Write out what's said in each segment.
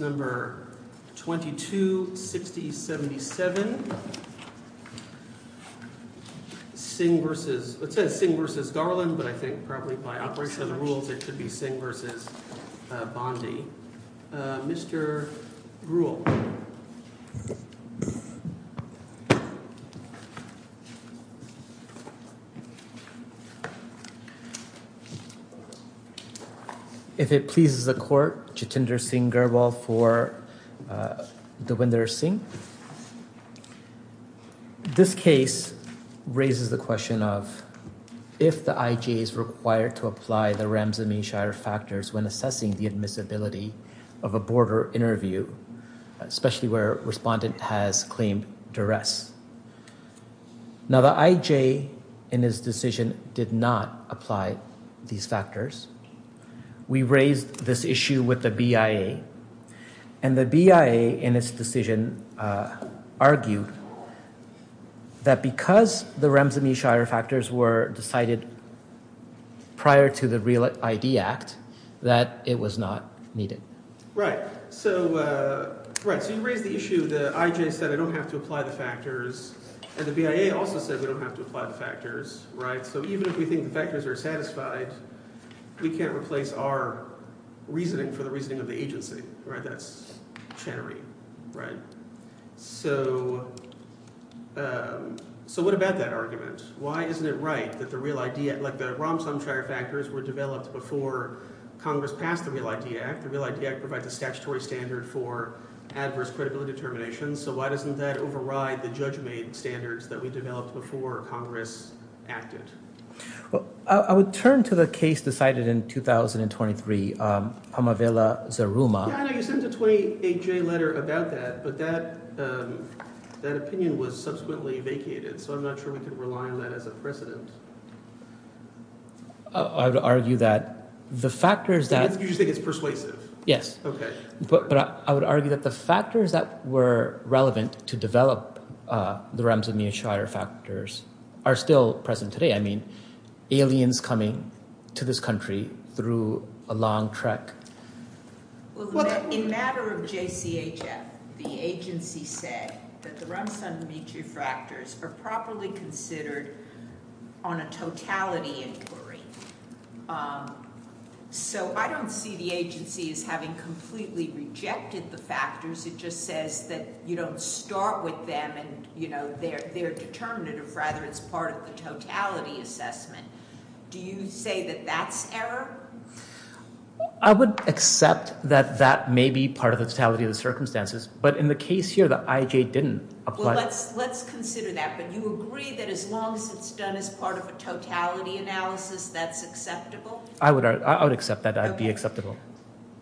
number 22 60 77 sing versus let's say sing versus Garland but I think probably by operation of the rules it should be sing versus Bondi mr. rule if it pleases the court Jitinder Singh Garbal for the window sing this case raises the question of if the IGA is required to apply the Rams and me Shire factors when assessing the admissibility of a border interview especially where respondent has claimed duress now the IJ in his decision did not apply these factors we raised this issue with the BIA and the BIA in its decision argued that because the Rams and me Shire factors were decided prior to the real ID act that it was not needed right so right so you raise the issue the IJ said I don't have to apply the factors and the BIA also said we don't have to apply the factors right so even if we think the factors are satisfied we can't replace our reasoning for the reasoning of the agency right that's shattering right so so what about that argument why isn't it right that the real idea like the wrong some Shire factors were developed before Congress passed the Real ID Act the Real ID Act provides a statutory standard for adverse credibility terminations so why doesn't that override the judge made standards that we developed before Congress acted well I would turn to the case decided in 2023 I'm a villa Saruma 28 J letter about that but that that opinion was subsequently vacated so I'm not sure we could rely on that as a president I would argue that the factors that you think it's persuasive yes okay but I would argue that the factors that were relevant to develop the realms of me a Shire factors are still present today I mean aliens coming to this through a long trek so I don't see the agency is having completely rejected the factors it just says that you don't start with them and you know they're they're determinative rather it's part of the totality assessment do you say I would accept that that may be part of the totality of the circumstances but in the case here that I J didn't I would accept that I'd be acceptable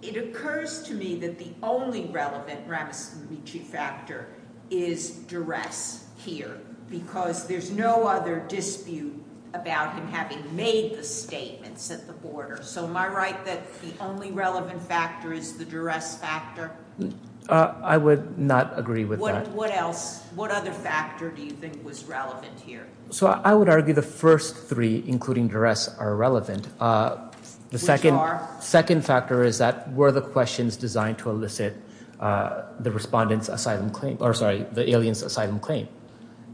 it occurs to me that the only relevant Ramaswamy chief actor is duress here because there's no other dispute about him having made the statements at the border so my right that the only relevant factor is the duress factor I would not agree with what else what other factor do you think was relevant here so I would argue the first three including duress are relevant the second second factor is that were the questions designed to elicit the respondents asylum claim or sorry the aliens asylum claim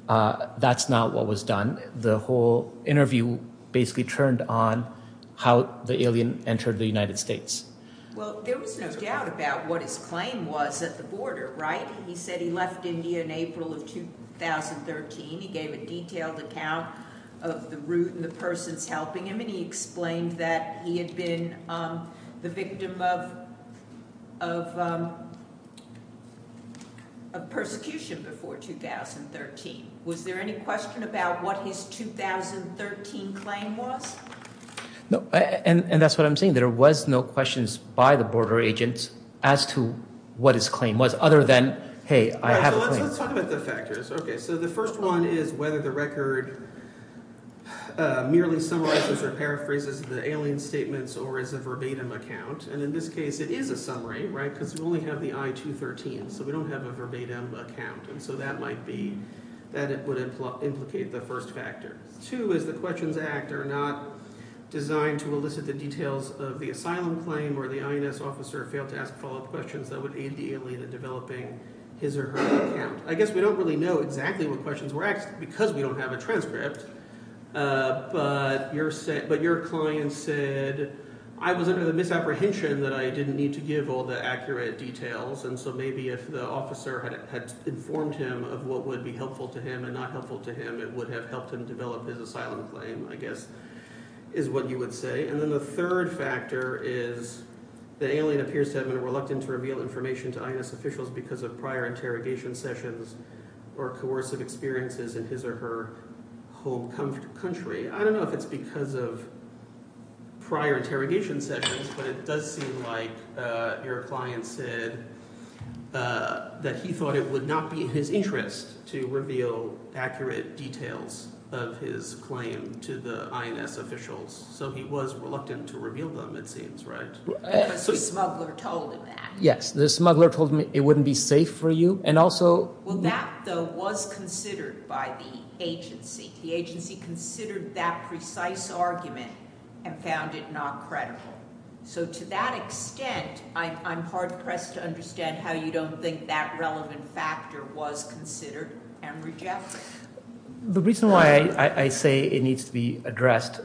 that's not what was done the whole interview basically turned on how the alien entered the United States well there was no doubt about what his claim was at the border right he said he left India in April of 2013 he gave a detailed account of the route and the persecution before 2013 was there any question about what his 2013 claim was no and and that's what I'm saying there was no questions by the border agents as to what his claim was other than hey I have the factors okay so the first one is whether the record merely summarizes or paraphrases the alien statements or as a verbatim account and in this case it is a summary right because we only have the I 213 so we don't have a verbatim account and so that might be that it would implicate the first factor two is the questions act are not designed to elicit the details of the asylum claim or the INS officer failed to ask follow-up questions that would aid the alien in developing his or her account I guess we don't really know exactly what questions were asked because we don't have a transcript but you're set but your client said I was under the apprehension that I didn't need to give all the accurate details and so maybe if the officer had informed him of what would be helpful to him and not helpful to him it would have helped him develop his asylum claim I guess is what you would say and then the third factor is the alien appears to have been reluctant to reveal information to INS officials because of prior interrogation sessions or coercive experiences in his or her home country I don't know if it's because of prior interrogation sessions but it does seem like your client said that he thought it would not be his interest to reveal accurate details of his claim to the INS officials so he was reluctant to reveal them it seems right yes the smuggler told me it wouldn't be safe for you and also well that though was considered by the agency the agency considered that precise argument and found it not credible so to that extent I'm hard pressed to understand how you don't think that relevant factor was considered and rejected the reason why I say it needs to be addressed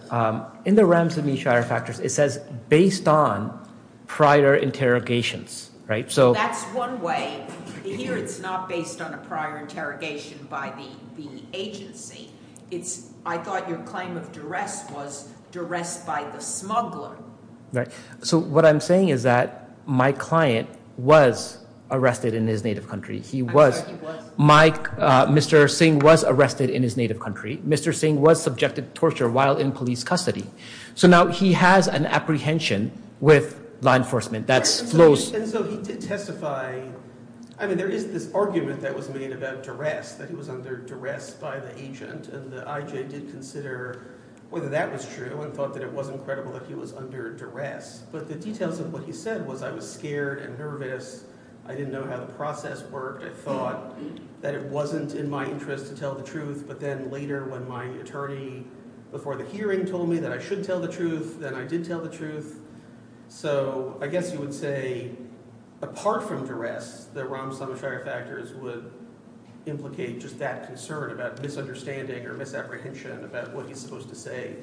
in the Rams and Me Shire factors it says based on prior interrogations right so that's one way here it's not based on a prior interrogation by the agency it's I thought your claim of duress was duress by the smuggler right so what I'm saying is that my client was arrested in his native country he was Mike mr. Singh was arrested in his native country mr. Singh was subjected to torture while in police custody so now he has an apprehension with law enforcement that's flows I mean there is this argument that was made about duress that he was under duress by the agent and the IJ did consider whether that was true and thought that it wasn't credible that he was under duress but the details of what he said was I was scared and nervous I didn't know how the process worked I thought that it wasn't in my interest to tell the truth but then later when my attorney before the hearing told me that I should tell the truth then I did tell the truth so I guess you would say apart from duress the wrong some of our factors would implicate just that concern about misunderstanding or misapprehension about what he's supposed to say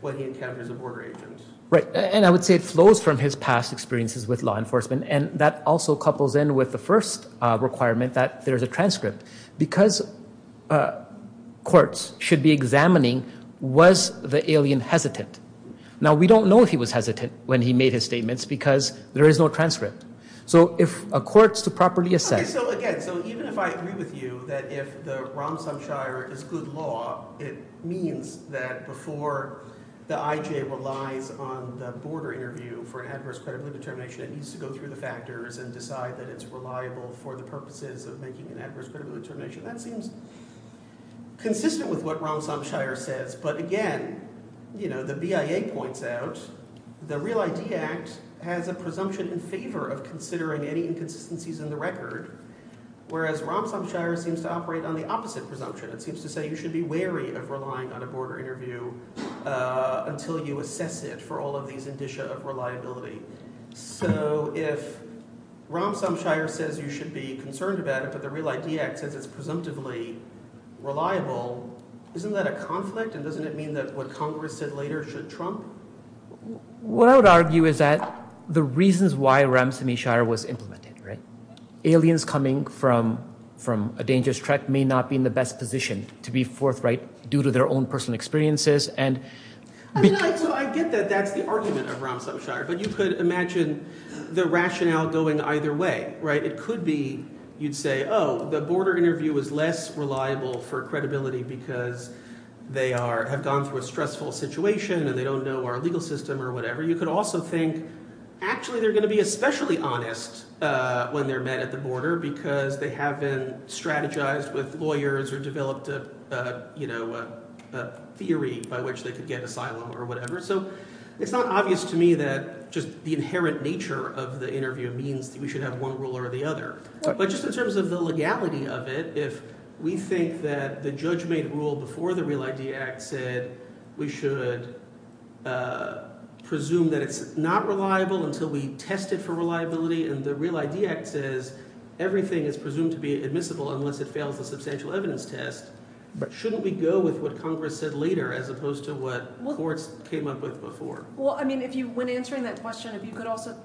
when he encounters a border agent right and I would say it flows from his past experiences with law enforcement and that also couples in with the first requirement that there's a transcript because courts should be examining was the alien hesitant now we don't know if he was hesitant when he made his statements because there is no transcript so if a court's to properly assess even if I agree with you that if the Ramsam Shire is good law it means that before the IJ relies on the border interview for an adverse credibility determination it needs to go through the factors and decide that it's reliable for the purposes of making an adverse credibility determination that seems consistent with what Ramsam Shire says but again you know the BIA points out the Real ID Act has a presumption in favor of considering any inconsistencies in the record whereas Ramsam Shire seems to operate on the opposite presumption it seems to say you should be wary of relying on a border interview until you assess it for all of these indicia of reliability so if Ramsam Shire says you should be concerned about it but the Real ID Act says it's presumptively reliable isn't that a conflict and doesn't it mean that what Congress said later should Trump what I would argue is that the reasons why Ramsam Shire was implemented right aliens coming from from a dangerous trek may not be in the best position to be forthright due to their own personal experiences and so I get that that's the argument of Ramsam Shire but you could imagine the rationale going either way right it could be you'd say oh the border interview was less reliable for credibility because they are have gone through a stressful situation and they don't know our legal system or whatever you could also think actually they're going to be especially honest when they're met at the border because they haven't strategized with lawyers or developed a you know a theory by which they could get asylum or whatever so it's not obvious to me that just the inherent nature of the interview means that we should have one rule or the other but just in terms of the legality of it if we think that the judge made rule before the Real ID Act said we should presume that it's not reliable until we test it for reliability and the Real ID Act says everything is presumed to be admissible unless it fails the substantial evidence test but shouldn't we go with what Congress said later as opposed to what courts came up with before well I mean if you when answering that question if you could also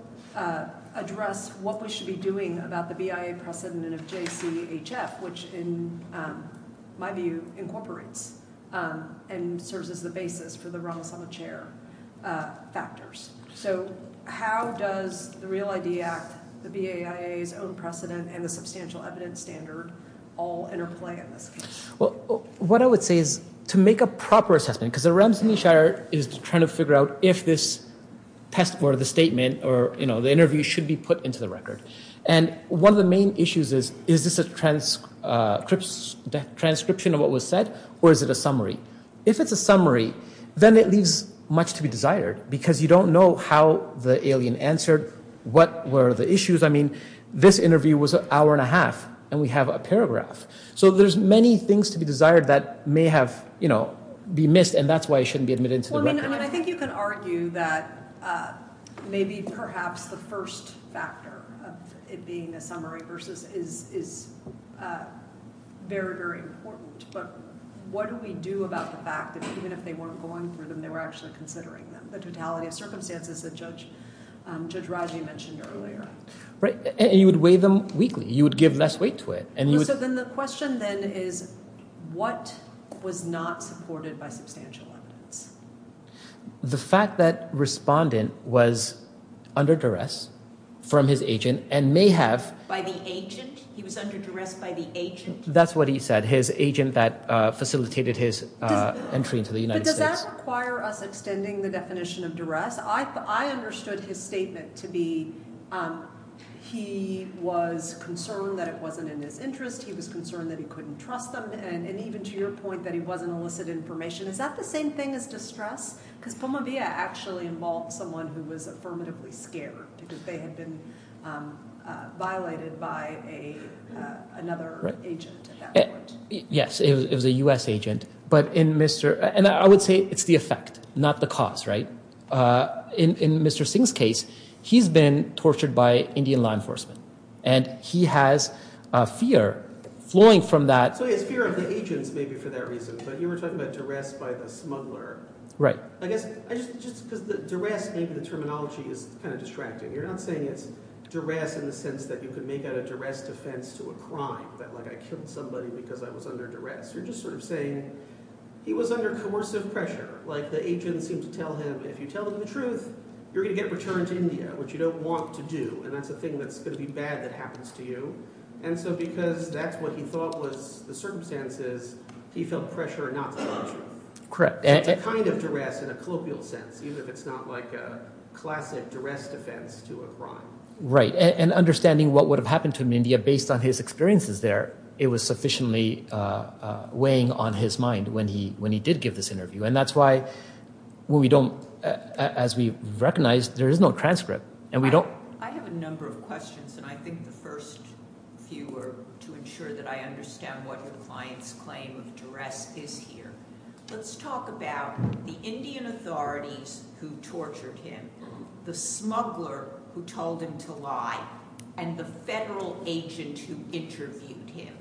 address what we should be doing about the BIA precedent of JCHF which in my view incorporates and serves as the basis for the Ramos on the chair factors so how does the Real ID Act the BAIA's own precedent and the substantial evidence standard all interplay in this case well what I would say is to make a proper assessment because the realms in the shire is trying to figure out if this test for the statement or you know the interview should be put into the record and one of the main issues is is this a transcripts transcription of what was said or is it a summary if it's a summary then it leaves much to be desired because you don't know how the alien answered what were the issues I mean this interview was an hour and a half and we have a paragraph so there's many things to be desired that may have you know be missed and that's why it shouldn't be admitted to the record I think you can argue that maybe perhaps the first factor of it being a summary versus is very very important but what do we do about the fact that even if they weren't going through them they were actually considering them the totality of circumstances that judge judge Raji mentioned earlier right and you would weigh them weekly you would give less weight to it and you said then the question then is what was not supported by substantial evidence the fact that respondent was under duress from his agent and may have by the agent he was under duress by the agent that's what he said his agent that facilitated his entry into the United States. Does that require us extending the definition of duress I understood his statement to be he was concerned that it wasn't in his interest he was concerned that he couldn't trust them and even to your point that he wasn't illicit information is that the same thing as distress because Pumavia actually involved someone who was affirmatively scared because they had been violated by another agent. Yes it was a US agent but in mr. and I would say it's the effect not the cause right in mr. Singh's case he's been tortured by Indian law enforcement and he has fear flowing from that. So he has fear of the agents maybe for that reason but you were talking about duress by the smuggler. Right. I guess just because the duress maybe the terminology is kind of distracting you're not saying it's duress in the sense that you could make out a duress defense to a crime that like I killed somebody because I was under duress you're just sort of saying he was under coercive pressure like the agents seem to tell him if you tell him the truth you're gonna get returned to India which you don't want to do and that's the thing that's gonna be bad that happens to you and so because that's what he thought was the circumstances he felt pressure not to tell the truth. Correct. It's a kind of duress in a colloquial sense even if it's not like a classic duress defense to a crime. Right and understanding what would have happened to him in India based on his experiences there it was sufficiently weighing on his mind when he when he did give this interview and that's why we don't as we've recognized there is no transcript and we don't. I have a number of questions and I think the first few are to ensure that I understand what the client's claim of duress is here. Let's talk about the Indian authorities who tortured him, the smuggler who told him to lie and the federal agent who interviewed him.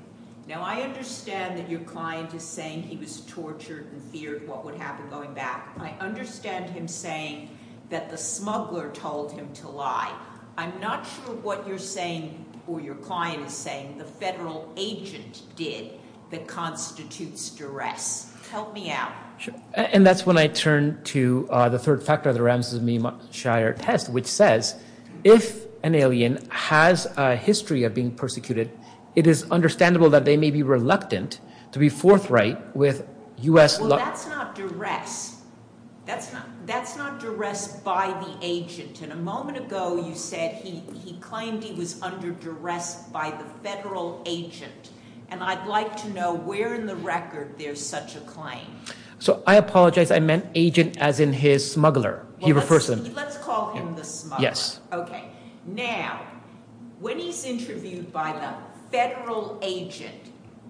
Now I understand that your client is saying he was tortured and feared what would happen going back. I understand him saying that the smuggler told him to lie. I'm not sure what you're saying or your client is saying the federal agent did that constitutes duress. Help me out. Sure and that's when I turn to the third factor of the Ramses Meem Shire test which says if an alien has a history of being persecuted it is understandable that they may be reluctant to be forthright with US law. Well that's not duress. That's not duress by the agent and a moment ago you said he claimed he was under duress by the federal agent and I'd like to know where in the record there's such a claim. So I apologize I meant agent as in his smuggler. Let's call him the smuggler. Now when he's interviewed by the federal agent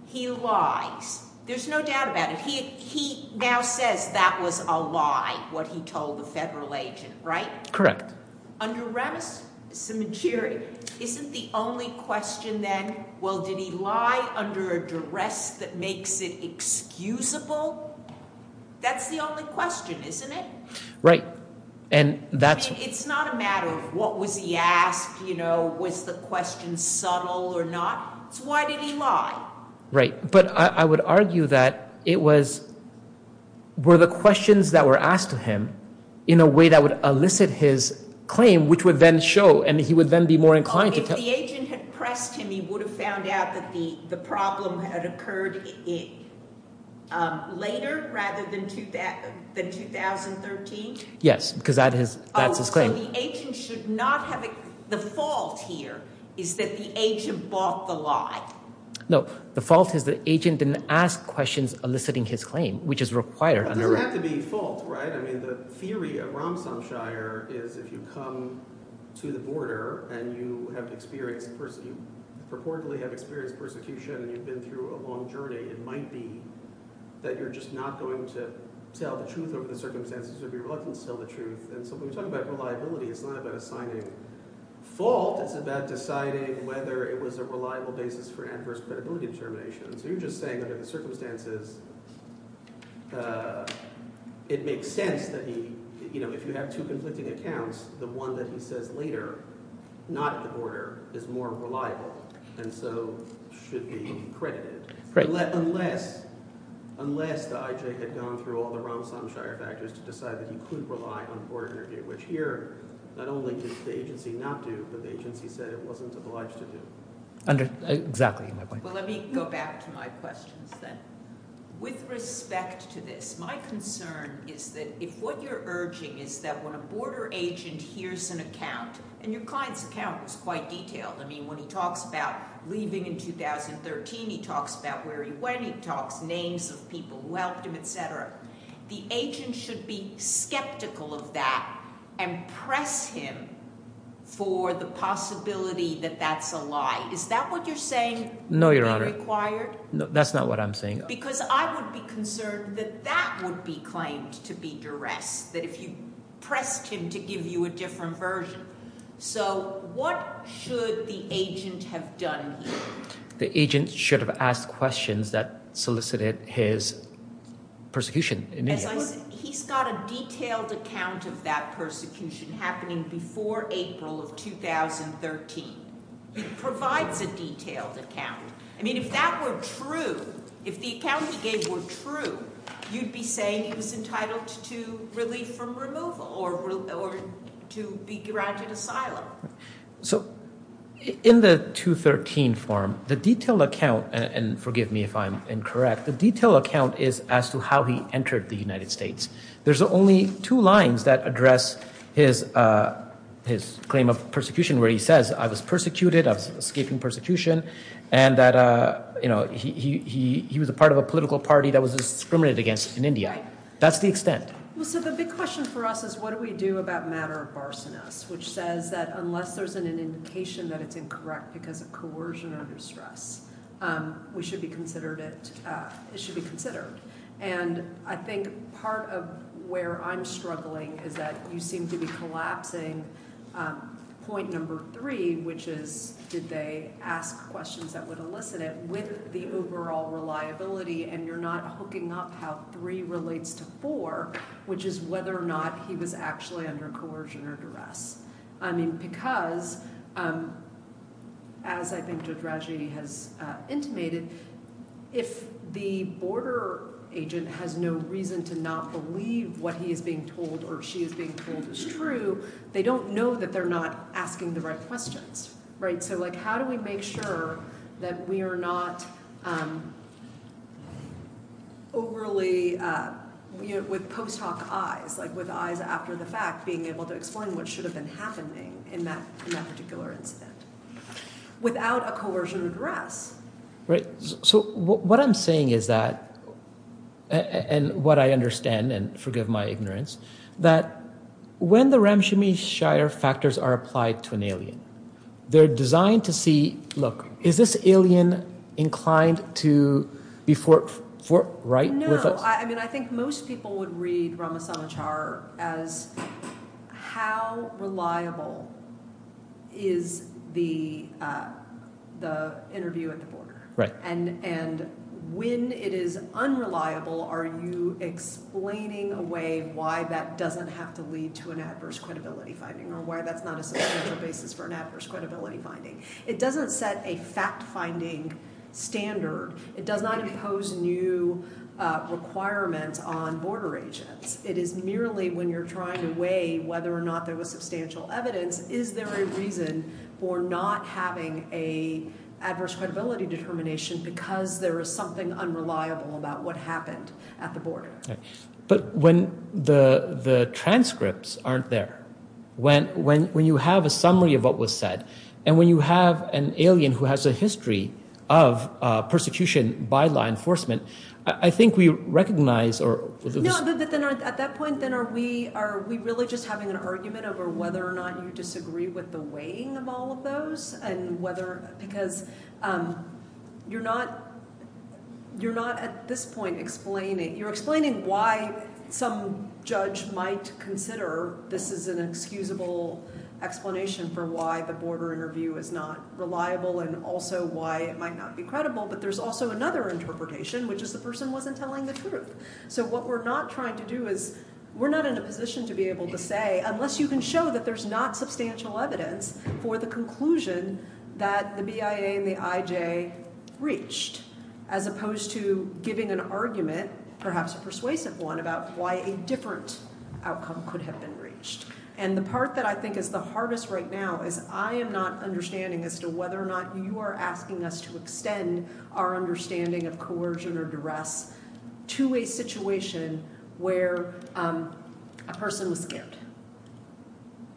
he lies. There's no doubt about it. He now says that was a lie what he told the federal agent, right? Correct. Under Ramses Meem Shire isn't the only question then? Well did he lie under a duress that makes it excusable? That's the only question isn't it? Right and that's it's not a matter of what was he asked you know was the question subtle or not. So why did he lie? Right but I would argue that it was were the questions that were asked of him in a way that would elicit his claim which would then show and he would then be more inclined to tell. So if the agent had pressed him he would have found out that the the problem had occurred later rather than 2013? Yes because that's his claim. Oh so the agent should not have, the fault here is that the agent bought the lie. No the fault is the agent didn't ask questions eliciting his claim which is required under. So it doesn't have to be fault right? I mean the theory of Ramses Meem Shire is if you come to the border and you have experienced personally purportedly have experienced persecution and you've been through a long journey it might be that you're just not going to tell the truth over the circumstances or be reluctant to tell the truth. And so when we talk about reliability it's not about assigning fault it's about deciding whether it was a reliable basis for adverse credibility determination. So you're just saying under the circumstances it makes sense that he you know if you have two conflicting accounts the one that he says later not at the border is more reliable and so should be credited. Unless the IJ had gone through all the Ramses Meem Shire factors to decide that he could rely on a border interview which here not only did the agency not do but the agency said it wasn't obliged to do. Well let me go back to my questions then. With respect to this my concern is that if what you're urging is that when a border agent hears an account and your client's account was quite detailed I mean when he talks about leaving in 2013 he talks about where he went he talks names of people who helped him etc. The agent should be skeptical of that and press him for the possibility that that's a lie. Is that what you're saying? No your honor. That's not what I'm saying. Because I would be concerned that that would be claimed to be duress that if you pressed him to give you a different version. So what should the agent have done here? The agent should have asked questions that solicited his persecution. He's got a detailed account of that persecution happening before April of 2013. It provides a detailed account. I mean if that were true if the account he gave were true you'd be saying he was entitled to relief from removal or to be granted asylum. So in the 2013 form the detailed account and forgive me if I'm incorrect the detailed account is as to how he entered the United States. There's only two lines that address his claim of persecution where he says I was persecuted I was escaping persecution and that you know he was a part of a political party that was discriminated against in India. That's the extent. So the big question for us is what do we do about matter of barsoness which says that unless there's an indication that it's incorrect because of coercion or distress we should be considered it should be considered. And I think part of where I'm struggling is that you seem to be collapsing point number three which is did they ask questions that would elicit it with the overall reliability and you're not hooking up how three relates to four which is whether or not he was actually under coercion or duress. I mean because as I think Deirdre has intimated if the border agent has no reason to not believe what he is being told or she is being told is true they don't know that they're not asking the right questions. Right so like how do we make sure that we are not overly with post hoc eyes like with eyes after the fact being able to explain what should have been happening in that particular incident without a coercion or duress. Right so what I'm saying is that and what I understand and forgive my ignorance that when the Ramshami Shire factors are applied to an alien they're designed to see look is this alien inclined to be for right. No I mean I think most people would read Ramos on the chart as how reliable is the the interview at the border and and when it is unreliable are you explaining away why that doesn't have to lead to an adverse credibility finding or why that's not a substantial basis for an adverse credibility finding. It doesn't set a fact finding standard it does not impose new requirements on border agents it is merely when you're trying to weigh whether or not there was substantial evidence is there a reason for not having a adverse credibility determination because there is something unreliable about what happened at the border. Right but when the the transcripts aren't there when when when you have a summary of what was said and when you have an alien who has a history of persecution by law enforcement I think we recognize or. No but then at that point then are we are we really just having an argument over whether or not you disagree with the weighing of all of those and whether because you're not you're not at this point explaining you're explaining why some judge might consider this is an excusable explanation for why the border interview is not reliable and also why it might not be credible but there's also another interpretation which is the person wasn't telling the truth. So what we're not trying to do is we're not in a position to be able to say unless you can show that there's not substantial evidence for the conclusion that the BIA and the IJ reached as opposed to giving an argument perhaps a persuasive one about why a different outcome could have been reached and the part that I think is the hardest right now is I am not understanding as to whether or not you are asking us to extend our understanding of coercion or duress. To a situation where a person was scared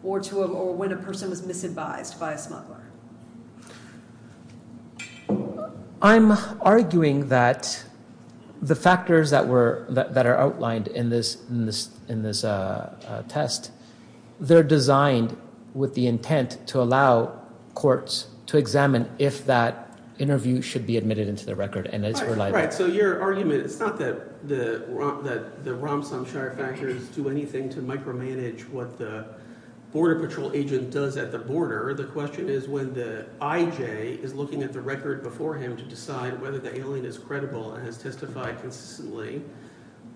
or to him or when a person was misadvised by a smuggler. I'm arguing that the factors that were that are outlined in this in this in this test they're designed with the intent to allow courts to examine if that interview should be admitted into the record and it's right. All right, so your argument it's not that the Ramsam Shire factors do anything to micromanage what the border patrol agent does at the border. The question is when the IJ is looking at the record before him to decide whether the alien is credible and has testified consistently,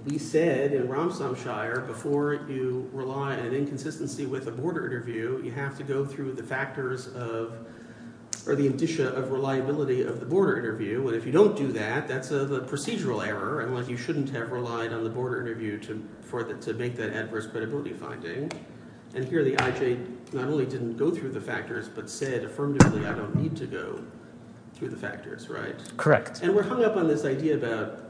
we said in Ramsam Shire before you rely on an inconsistency with a border interview, you have to go through the factors of – or the indicia of reliability of the border interview. And if you don't do that, that's a procedural error and like you shouldn't have relied on the border interview to make that adverse credibility finding. And here the IJ not only didn't go through the factors but said affirmatively I don't need to go through the factors, right? Correct. And we're hung up on this idea about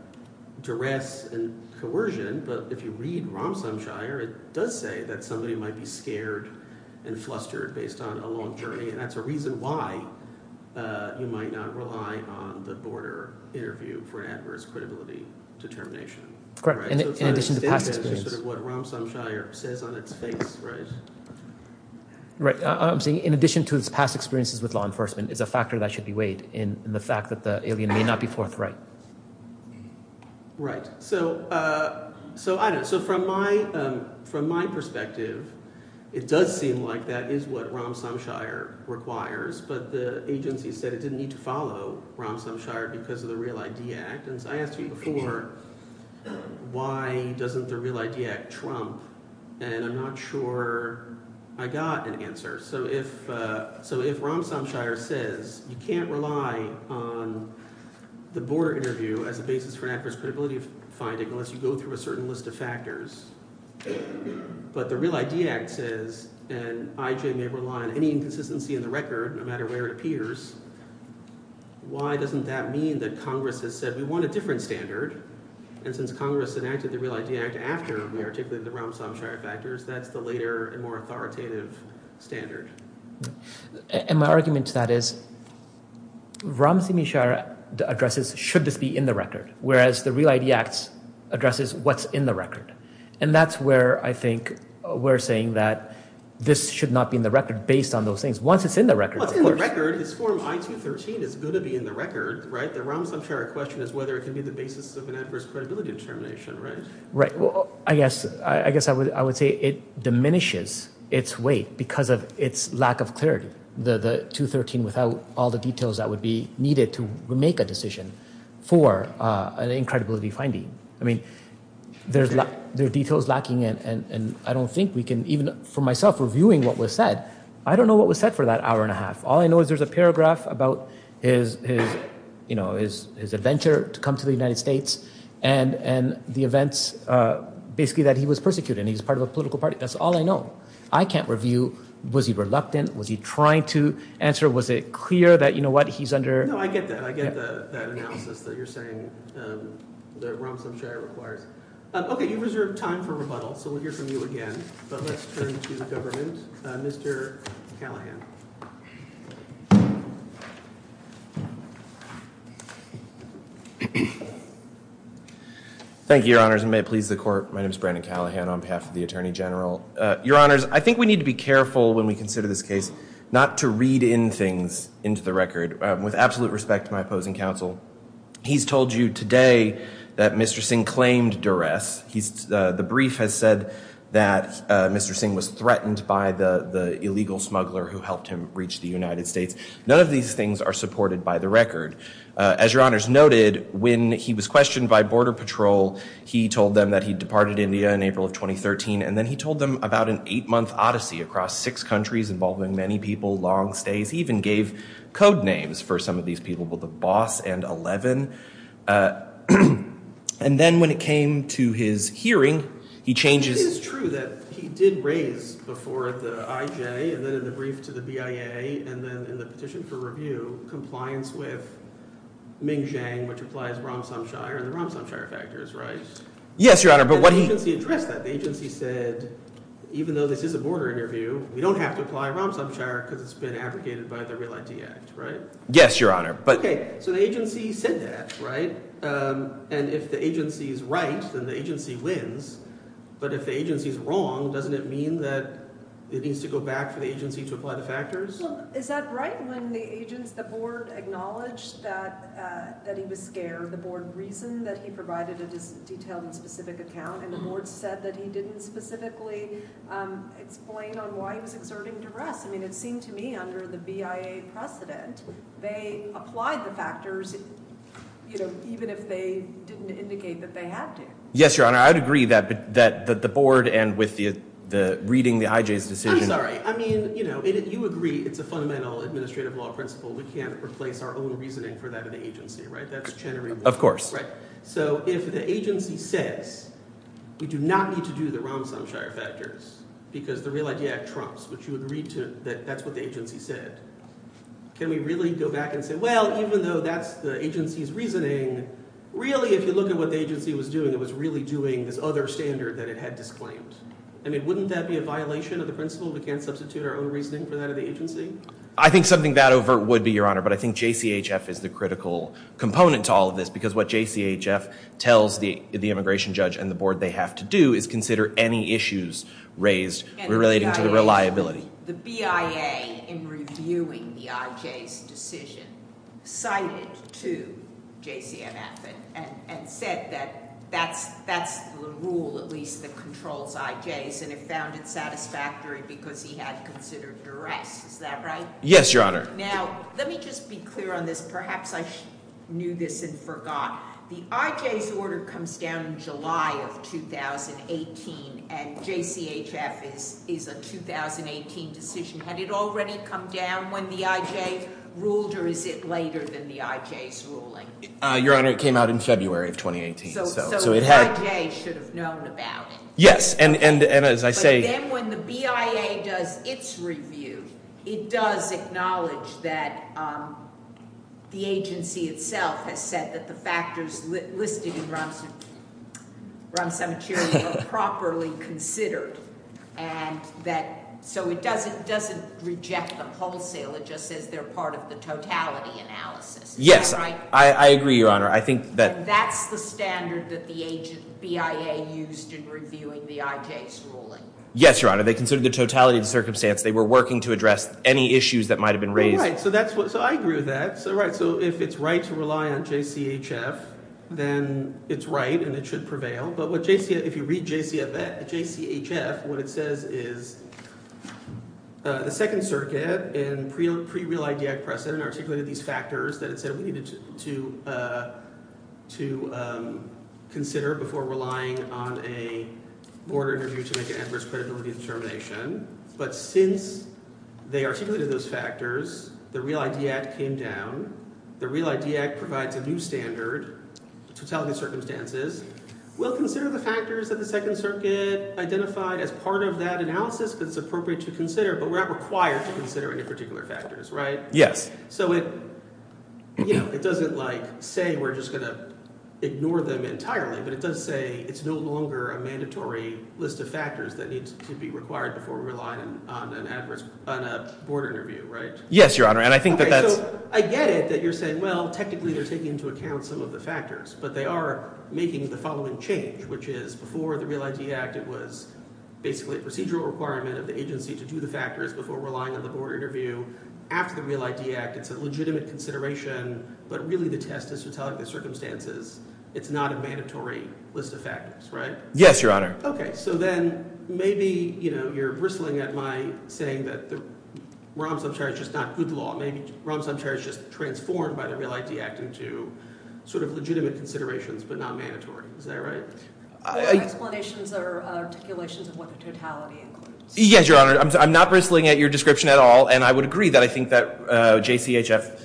duress and coercion but if you read Ramsam Shire it does say that somebody might be scared and flustered based on a long journey and that's a reason why you might not rely on the border interview for adverse credibility determination. Correct, in addition to past experience. Sort of what Ramsam Shire says on its face, right? I'm saying in addition to its past experiences with law enforcement is a factor that should be weighed in the fact that the alien may not be forthright. Right. So I don't – so from my perspective, it does seem like that is what Ramsam Shire requires, but the agency said it didn't need to follow Ramsam Shire because of the Real ID Act. And I asked you before why doesn't the Real ID Act trump, and I'm not sure I got an answer. So if Ramsam Shire says you can't rely on the border interview as a basis for adverse credibility finding unless you go through a certain list of factors, but the Real ID Act says and IJ may rely on any inconsistency in the record no matter where it appears, why doesn't that mean that Congress has said we want a different standard? And since Congress enacted the Real ID Act after we articulated the Ramsam Shire factors, that's the later and more authoritative standard. And my argument to that is Ramsam Shire addresses should this be in the record, whereas the Real ID Act addresses what's in the record. And that's where I think we're saying that this should not be in the record based on those things. Well, it's in the record. This form I-213 is going to be in the record, right? The Ramsam Shire question is whether it can be the basis of an adverse credibility determination, right? Right. Well, I guess I would say it diminishes its weight because of its lack of clarity. The 213 without all the details that would be needed to make a decision for an incredibility finding. I mean, there are details lacking and I don't think we can, even for myself reviewing what was said, I don't know what was said for that hour and a half. All I know is there's a paragraph about his adventure to come to the United States and the events basically that he was persecuted and he was part of a political party. That's all I know. I can't review was he reluctant, was he trying to answer, was it clear that, you know what, he's under- No, I get that. I get that analysis that you're saying that Ramsam Shire requires. Okay, you've reserved time for rebuttal, so we'll hear from you again, but let's turn to government. Mr. Callahan. Thank you, Your Honors, and may it please the Court. My name is Brandon Callahan on behalf of the Attorney General. Your Honors, I think we need to be careful when we consider this case not to read in things into the record. With absolute respect to my opposing counsel, he's told you today that Mr. Singh claimed duress. The brief has said that Mr. Singh was threatened by the illegal smuggler who helped him reach the United States. None of these things are supported by the record. As Your Honors noted, when he was questioned by Border Patrol, he told them that he departed India in April of 2013, and then he told them about an eight-month odyssey across six countries involving many people, long stays. He even gave code names for some of these people, both a boss and 11. And then when it came to his hearing, he changes- Yes, Your Honor, but what he- Yes, Your Honor, but- Okay, so the agency said that, right? And if the agency is right, then the agency wins. But if the agency is wrong, doesn't it mean that it needs to go back for the agency to apply the factors? Well, is that right when the agents – the board acknowledged that he was scared? The board reasoned that he provided a detailed and specific account, and the board said that he didn't specifically explain on why he was exerting duress. I mean, it seemed to me under the BIA precedent, they applied the factors even if they didn't indicate that they had to. Yes, Your Honor, I would agree that the board and with reading the IJ's decision- I'm sorry. I mean, you agree it's a fundamental administrative law principle. We can't replace our own reasoning for that in the agency, right? That's Chenery Law. Of course. Right. So if the agency says we do not need to do the Romsom Shire factors because the Real Idea Act trumps, which you would read to that that's what the agency said, can we really go back and say, well, even though that's the agency's reasoning, really if you look at what the agency was doing, it was really doing this other standard that it had disclaimed. I mean, wouldn't that be a violation of the principle? We can't substitute our own reasoning for that in the agency? I think something that overt would be, Your Honor, but I think JCHF is the critical component to all of this because what JCHF tells the immigration judge and the board they have to do is consider any issues raised relating to the reliability. The BIA in reviewing the IJ's decision cited to JCMF and said that that's the rule, at least, that controls IJ's and it found it satisfactory because he had considered duress. Is that right? Yes, Your Honor. Now, let me just be clear on this. Perhaps I knew this and forgot. The IJ's order comes down in July of 2018 and JCHF is a 2018 decision. Had it already come down when the IJ ruled or is it later than the IJ's ruling? Your Honor, it came out in February of 2018. So the IJ should have known about it. Yes, and as I say- It does acknowledge that the agency itself has said that the factors listed in Ram Samachiri are properly considered and that so it doesn't reject the wholesale. It just says they're part of the totality analysis. Yes, I agree, Your Honor. I think that- That's the standard that the BIA used in reviewing the IJ's ruling. Yes, Your Honor. They considered the totality of the circumstance. They were working to address any issues that might have been raised. So I agree with that. So if it's right to rely on JCHF, then it's right and it should prevail. But if you read JCHF, what it says is the Second Circuit in pre-Real ID Act precedent articulated these factors that it said we needed to consider before relying on a board interview to make an adverse credibility determination. But since they articulated those factors, the Real ID Act came down. The Real ID Act provides a new standard, totality of circumstances. We'll consider the factors that the Second Circuit identified as part of that analysis because it's appropriate to consider, but we're not required to consider any particular factors, right? Yes. So it doesn't say we're just going to ignore them entirely, but it does say it's no longer a mandatory list of factors that needs to be required before relying on a board interview, right? Yes, Your Honor, and I think that that's- Okay, so I get it that you're saying, well, technically they're taking into account some of the factors, but they are making the following change, which is before the Real ID Act, it was basically a procedural requirement of the agency to do the factors before relying on the board interview. After the Real ID Act, it's a legitimate consideration, but really the test is to tell it the circumstances. It's not a mandatory list of factors, right? Yes, Your Honor. Okay, so then maybe you're bristling at my saying that the Rahm Sumter is just not good law. Maybe Rahm Sumter is just transformed by the Real ID Act into sort of legitimate considerations but not mandatory. Is that right? The explanations are articulations of what the totality includes. Yes, Your Honor, I'm not bristling at your description at all, and I would agree that I think that JCHF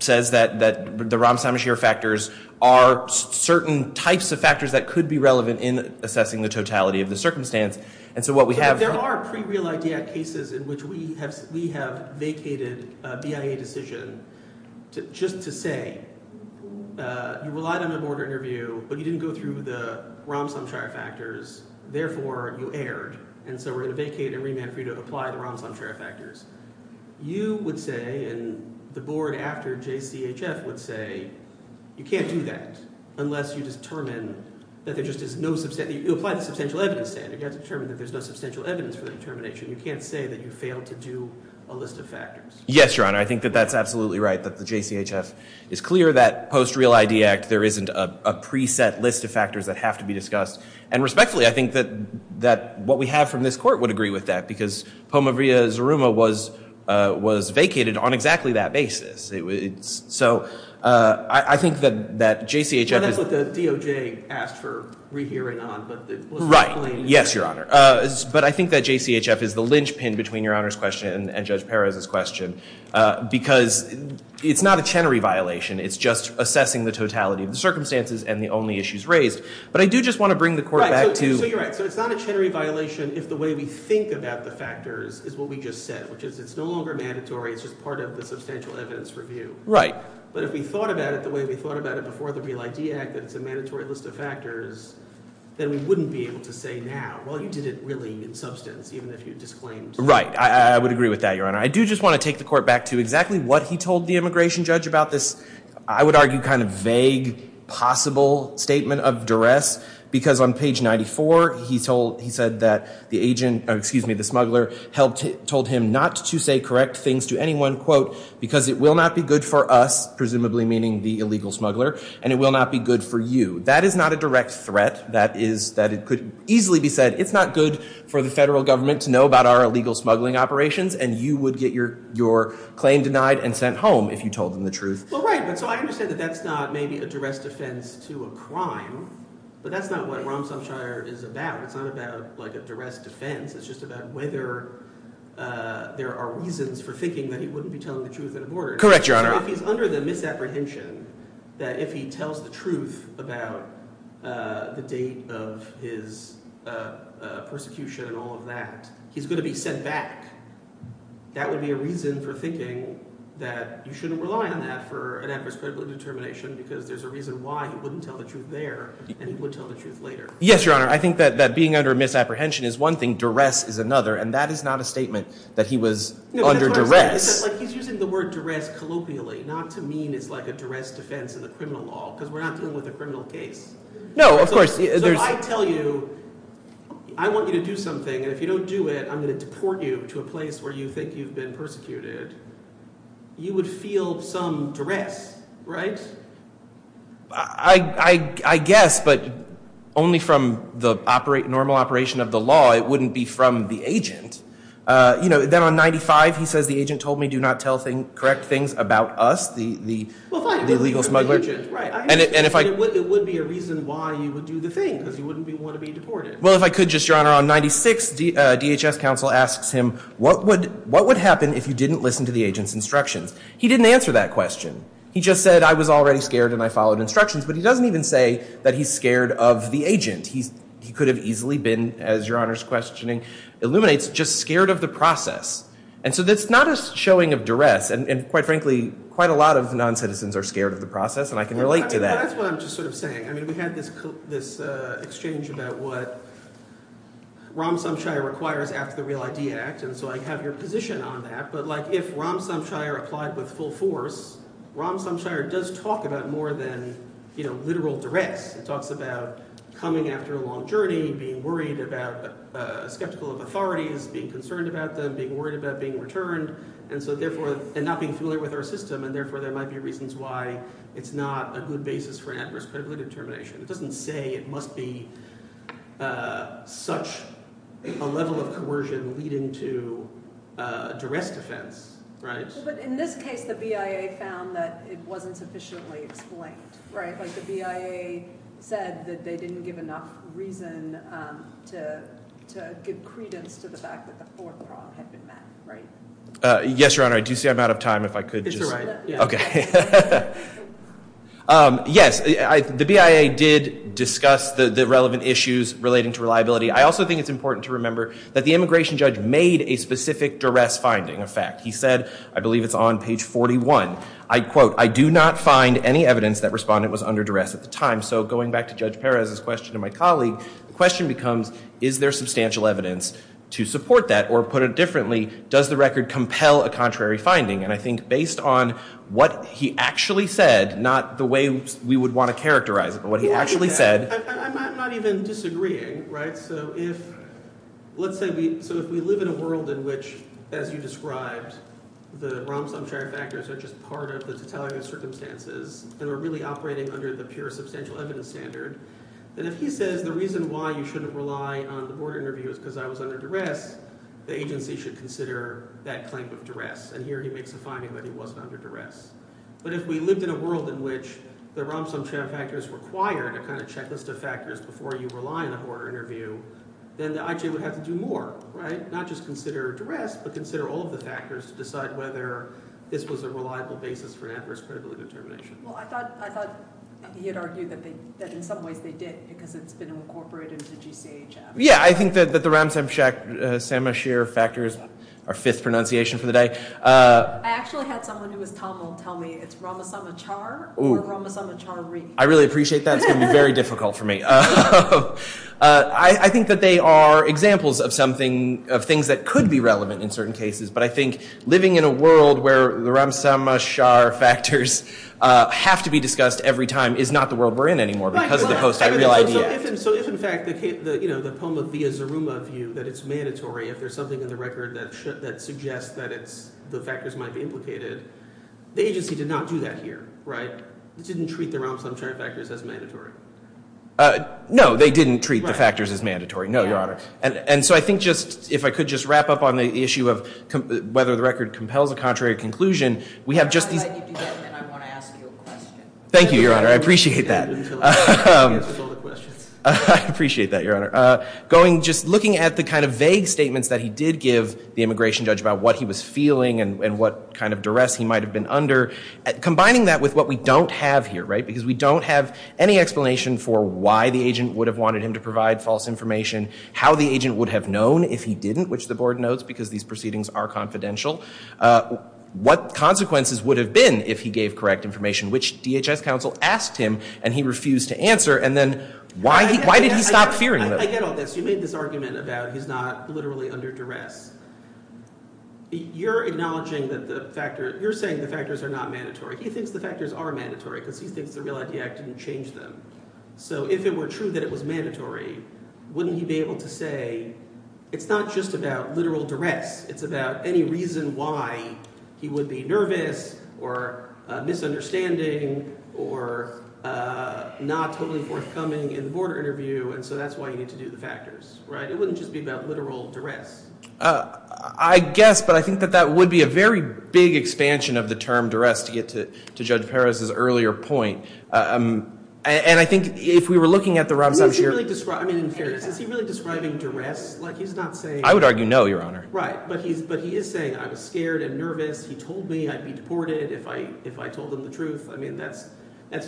says that the Rahm Sumter factors are certain types of factors that could be relevant in assessing the totality of the circumstance, and so what we have- But there are pre-Real ID Act cases in which we have vacated a BIA decision just to say you relied on a board interview, but you didn't go through the Rahm Sumter factors, therefore you erred, and so we're going to vacate and remand for you to apply the Rahm Sumter factors. You would say, and the board after JCHF would say, you can't do that unless you determine that there just is no- You apply the substantial evidence standard. You have to determine that there's no substantial evidence for the determination. You can't say that you failed to do a list of factors. Yes, Your Honor, I think that that's absolutely right, that the JCHF is clear that post-Real ID Act there isn't a preset list of factors that have to be discussed, and respectfully, I think that what we have from this court would agree with that, because Poma v. Zuruma was vacated on exactly that basis. So I think that JCHF is- That's what the DOJ asked for rehearing on, but the- Right. Yes, Your Honor. But I think that JCHF is the linchpin between Your Honor's question and Judge Perez's question, because it's not a Chenery violation. It's just assessing the totality of the circumstances and the only issues raised, but I do just want to bring the court back to- Right, so you're right. So it's not a Chenery violation if the way we think about the factors is what we just said, which is it's no longer mandatory. It's just part of the substantial evidence review. Right. But if we thought about it the way we thought about it before the Real ID Act, that it's a mandatory list of factors, then we wouldn't be able to say now, well, you did it really in substance, even if you disclaimed- Right. I would agree with that, Your Honor. I do just want to take the court back to exactly what he told the immigration judge about this, I would argue kind of vague, possible statement of duress, because on page 94 he said that the agent, excuse me, the smuggler, told him not to say correct things to anyone, quote, because it will not be good for us, presumably meaning the illegal smuggler, and it will not be good for you. That is not a direct threat. That is that it could easily be said it's not good for the federal government to know about our illegal smuggling operations, and you would get your claim denied and sent home if you told them the truth. Well, right, but so I understand that that's not maybe a duress defense to a crime, but that's not what Romshoffshire is about. It's not about like a duress defense. It's just about whether there are reasons for thinking that he wouldn't be telling the truth at a border. Correct, Your Honor. So if he's under the misapprehension that if he tells the truth about the date of his persecution and all of that, he's going to be sent back, that would be a reason for thinking that you shouldn't rely on that for an adverse critical determination because there's a reason why he wouldn't tell the truth there and he would tell the truth later. Yes, Your Honor. I think that being under misapprehension is one thing. Duress is another, and that is not a statement that he was under duress. No, but that's what I'm saying. He's using the word duress colloquially, not to mean it's like a duress defense in the criminal law because we're not dealing with a criminal case. No, of course. So if I tell you I want you to do something, and if you don't do it, I'm going to deport you to a place where you think you've been persecuted, you would feel some duress, right? I guess, but only from the normal operation of the law. It wouldn't be from the agent. Then on 95, he says the agent told me do not tell correct things about us, the illegal smugglers. It would be a reason why you would do the thing because you wouldn't want to be deported. Well, if I could just, Your Honor, on 96, DHS counsel asks him, what would happen if you didn't listen to the agent's instructions? He didn't answer that question. He just said I was already scared and I followed instructions, but he doesn't even say that he's scared of the agent. He could have easily been, as Your Honor's questioning illuminates, just scared of the process. And so that's not a showing of duress, and quite frankly, quite a lot of noncitizens are scared of the process, and I can relate to that. That's what I'm just sort of saying. I mean we had this exchange about what Ram Somshire requires after the Real ID Act, and so I have your position on that. But like if Ram Somshire applied with full force, Ram Somshire does talk about more than literal duress. It talks about coming after a long journey, being worried about skeptical authorities, being concerned about them, being worried about being returned, and so therefore – and not being familiar with our system, and therefore there might be reasons why it's not a good basis for adverse critical determination. It doesn't say it must be such a level of coercion leading to a duress defense, right? But in this case, the BIA found that it wasn't sufficiently explained, right? Like the BIA said that they didn't give enough reason to give credence to the fact that the fourth prom had been met, right? Yes, Your Honor. I do see I'm out of time. If I could just – okay. Yes, the BIA did discuss the relevant issues relating to reliability. I also think it's important to remember that the immigration judge made a specific duress finding a fact. He said, I believe it's on page 41, I quote, I do not find any evidence that respondent was under duress at the time. So going back to Judge Perez's question and my colleague, the question becomes is there substantial evidence to support that, or put it differently, does the record compel a contrary finding? And I think based on what he actually said, not the way we would want to characterize it, but what he actually said – I'm not even disagreeing, right? So if – let's say we – so if we live in a world in which, as you described, the Romson Characters are just part of the totalitarian circumstances and are really operating under the pure substantial evidence standard, then if he says the reason why you shouldn't rely on the board interview is because I was under duress, the agency should consider that claim of duress. And here he makes a finding that he wasn't under duress. But if we lived in a world in which the Romson Characters required a kind of checklist of factors before you rely on a board interview, then the IJ would have to do more, right? Not just consider duress, but consider all of the factors to decide whether this was a reliable basis for an adverse credibility determination. Well, I thought he had argued that in some ways they did because it's been incorporated into GCHM. Yeah, I think that the Romson Characters are fifth pronunciation for the day. I actually had someone who was Tamil tell me it's Ramasamachar or Ramasamachari. I really appreciate that. It's going to be very difficult for me. I think that they are examples of something – of things that could be relevant in certain cases. But I think living in a world where the Ramasamachar factors have to be discussed every time is not the world we're in anymore because of the post-ideal idea. So if, in fact, the poem of Viyasaruma view that it's mandatory if there's something in the record that suggests that the factors might be implicated, the agency did not do that here, right? They didn't treat the Ramasamachar factors as mandatory. No, they didn't treat the factors as mandatory. No, Your Honor. And so I think just – if I could just wrap up on the issue of whether the record compels a contrary conclusion, we have just these – If I let you do that, then I want to ask you a question. Thank you, Your Honor. I appreciate that. I appreciate that, Your Honor. Going – just looking at the kind of vague statements that he did give the immigration judge about what he was feeling and what kind of duress he might have been under, combining that with what we don't have here, right? Because we don't have any explanation for why the agent would have wanted him to provide false information, how the agent would have known if he didn't, which the board notes because these proceedings are confidential, what consequences would have been if he gave correct information, which DHS counsel asked him and he refused to answer? And then why did he stop fearing them? I get all this. You made this argument about he's not literally under duress. You're acknowledging that the factor – you're saying the factors are not mandatory. He thinks the factors are mandatory because he thinks the Real ID Act didn't change them. So if it were true that it was mandatory, wouldn't he be able to say it's not just about literal duress. It's about any reason why he would be nervous or misunderstanding or not totally forthcoming in the board interview. And so that's why you need to do the factors, right? It wouldn't just be about literal duress. I guess, but I think that that would be a very big expansion of the term duress to get to Judge Perez's earlier point. And I think if we were looking at the – Is he really – I mean in fairness, is he really describing duress? Like he's not saying – I would argue no, Your Honor. Right, but he is saying I was scared and nervous. He told me I'd be deported if I told him the truth. I mean that's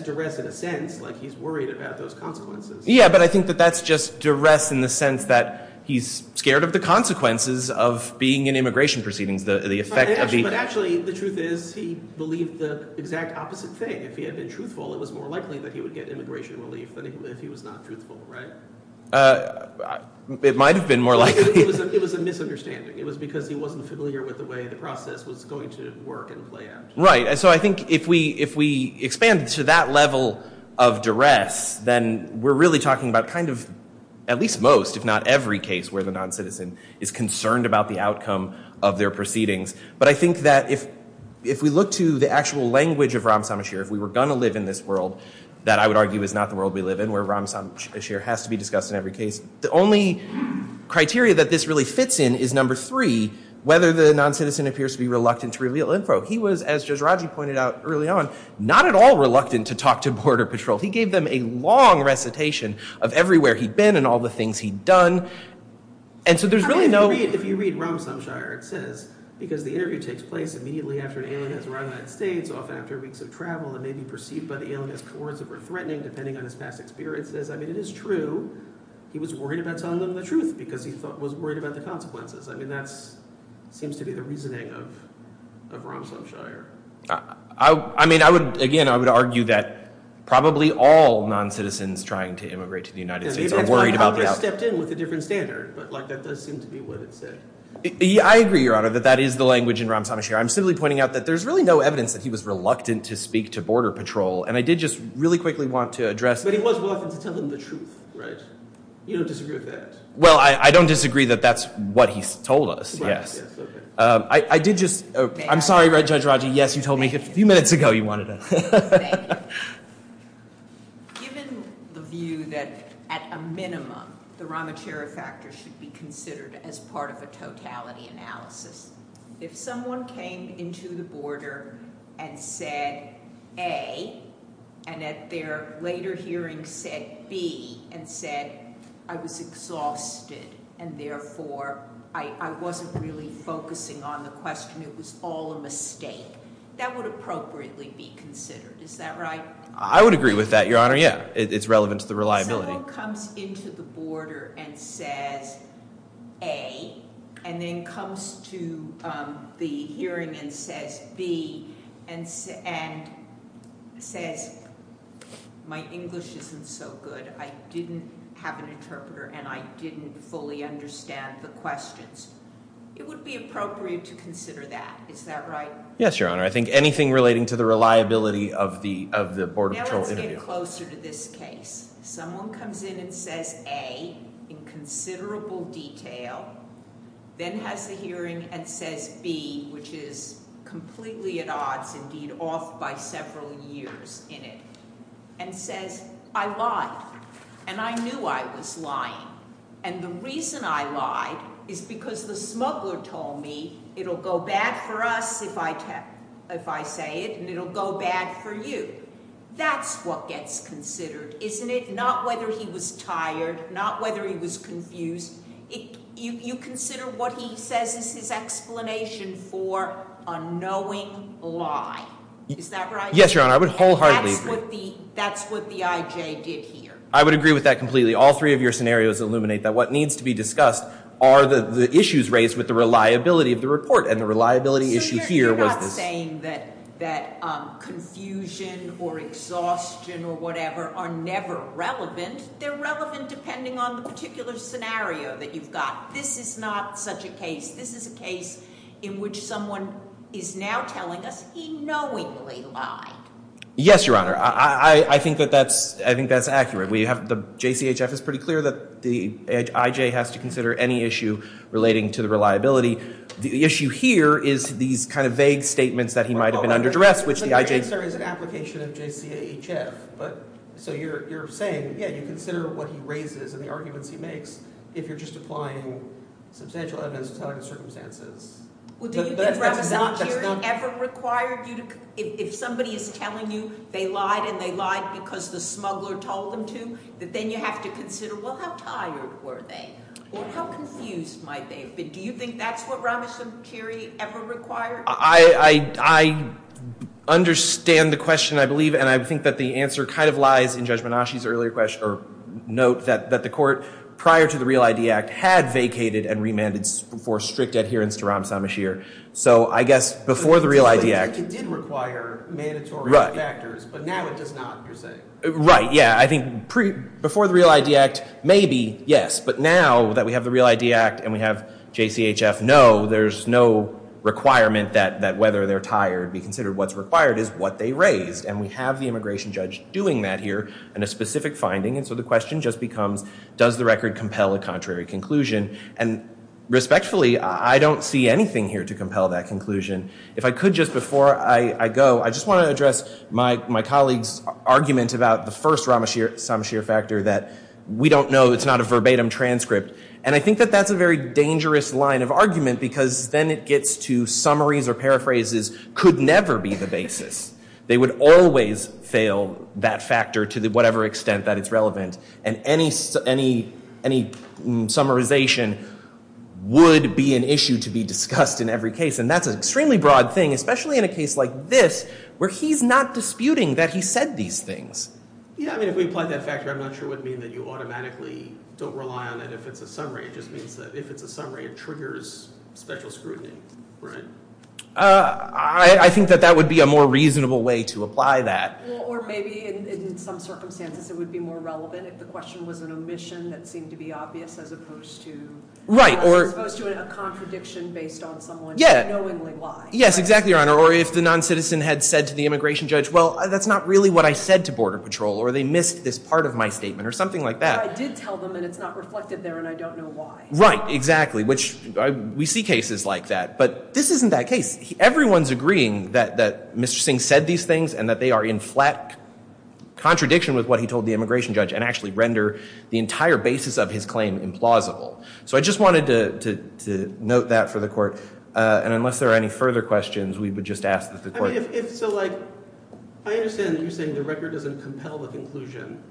duress in a sense. Like he's worried about those consequences. Yeah, but I think that that's just duress in the sense that he's scared of the consequences of being in immigration proceedings, the effect of the – But actually the truth is he believed the exact opposite thing. If he had been truthful, it was more likely that he would get immigration relief than if he was not truthful, right? It might have been more likely. It was a misunderstanding. It was because he wasn't familiar with the way the process was going to work and play out. Right. So I think if we expand to that level of duress, then we're really talking about kind of at least most, if not every case where the noncitizen is concerned about the outcome of their proceedings. But I think that if we look to the actual language of Ram Samasheer, if we were going to live in this world that I would argue is not the world we live in where Ram Samasheer has to be discussed in every case, the only criteria that this really fits in is number three, whether the noncitizen appears to be reluctant to reveal info. He was, as Jajaraji pointed out early on, not at all reluctant to talk to Border Patrol. He gave them a long recitation of everywhere he'd been and all the things he'd done. And so there's really no – If you read Ram Samasheer, it says, because the interview takes place immediately after an alien has arrived in the United States, often after weeks of travel and may be perceived by the alien as coercive or threatening depending on his past experiences. It says, I mean, it is true he was worried about telling them the truth because he was worried about the consequences. I mean, that seems to be the reasoning of Ram Samasheer. I mean, again, I would argue that probably all noncitizens trying to immigrate to the United States are worried about the outcome. Congress stepped in with a different standard, but that does seem to be what it said. I agree, Your Honor, that that is the language in Ram Samasheer. I'm simply pointing out that there's really no evidence that he was reluctant to speak to Border Patrol. And I did just really quickly want to address – But he was reluctant to tell them the truth, right? You don't disagree with that? Well, I don't disagree that that's what he's told us, yes. I did just – I'm sorry, Judge Raji. Yes, you told me a few minutes ago you wanted to – Given the view that at a minimum the Ramachera factor should be considered as part of a totality analysis, if someone came into the border and said, A, and at their later hearing said, B, and said, I was exhausted and therefore I wasn't really focusing on the question, it was all a mistake, that would appropriately be considered. Is that right? I would agree with that, Your Honor, yeah. It's relevant to the reliability. If someone comes into the border and says, A, and then comes to the hearing and says, B, and says, my English isn't so good, I didn't have an interpreter, and I didn't fully understand the questions, it would be appropriate to consider that. Is that right? Yes, Your Honor. I think anything relating to the reliability of the Border Patrol interview. Let's get closer to this case. Someone comes in and says, A, in considerable detail, then has the hearing and says, B, which is completely at odds, indeed off by several years in it, and says, I lied, and I knew I was lying, and the reason I lied is because the smuggler told me it'll go bad for us if I say it and it'll go bad for you. That's what gets considered, isn't it? Not whether he was tired, not whether he was confused. You consider what he says is his explanation for a knowing lie. Is that right? Yes, Your Honor. I would wholeheartedly agree. That's what the IJ did here. I would agree with that completely. All three of your scenarios illuminate that what needs to be discussed are the issues raised with the reliability of the report, and the reliability issue here was this. I'm not saying that confusion or exhaustion or whatever are never relevant. They're relevant depending on the particular scenario that you've got. This is not such a case. This is a case in which someone is now telling us he knowingly lied. Yes, Your Honor. I think that's accurate. The JCHF is pretty clear that the IJ has to consider any issue relating to the reliability. The issue here is these kind of vague statements that he might have been under duress, which the IJ— Your answer is an application of JCHF. So you're saying, yeah, you consider what he raises and the arguments he makes if you're just applying substantial evidence to tell us the circumstances. Well, do you think Ramazan Khiri ever required you to— if somebody is telling you they lied and they lied because the smuggler told them to, that then you have to consider, well, how tired were they? Well, how confused might they have been? Do you think that's what Ramazan Khiri ever required? I understand the question, I believe, and I think that the answer kind of lies in Judge Menashe's earlier question or note that the court prior to the Real ID Act had vacated and remanded for strict adherence to Ramazan Khiri. So I guess before the Real ID Act— It did require mandatory factors, but now it does not, you're saying. Right, yeah, I think before the Real ID Act, maybe, yes, but now that we have the Real ID Act and we have JCHF, no, there's no requirement that whether they're tired be considered. What's required is what they raised, and we have the immigration judge doing that here and a specific finding, and so the question just becomes, does the record compel a contrary conclusion? And respectfully, I don't see anything here to compel that conclusion. If I could, just before I go, I just want to address my colleague's argument about the first Ramasheer factor that we don't know, it's not a verbatim transcript, and I think that that's a very dangerous line of argument because then it gets to summaries or paraphrases could never be the basis. They would always fail that factor to whatever extent that it's relevant, and any summarization would be an issue to be discussed in every case, and that's an extremely broad thing, especially in a case like this where he's not disputing that he said these things. Yeah, I mean, if we apply that factor, I'm not sure what it would mean that you automatically don't rely on it if it's a summary. It just means that if it's a summary, it triggers special scrutiny, right? I think that that would be a more reasonable way to apply that. Or maybe in some circumstances it would be more relevant if the question was an omission that seemed to be obvious as opposed to a contradiction based on someone knowingly why. Yes, exactly, Your Honor, or if the non-citizen had said to the immigration judge, well, that's not really what I said to Border Patrol, or they missed this part of my statement or something like that. But I did tell them, and it's not reflected there, and I don't know why. Right, exactly, which we see cases like that, but this isn't that case. Everyone's agreeing that Mr. Singh said these things and that they are in flat contradiction with what he told the immigration judge and actually render the entire basis of his claim implausible. So I just wanted to note that for the Court, and unless there are any further questions, we would just ask that the Court I mean, if so, like, I understand that you're saying the record doesn't compel the conclusion,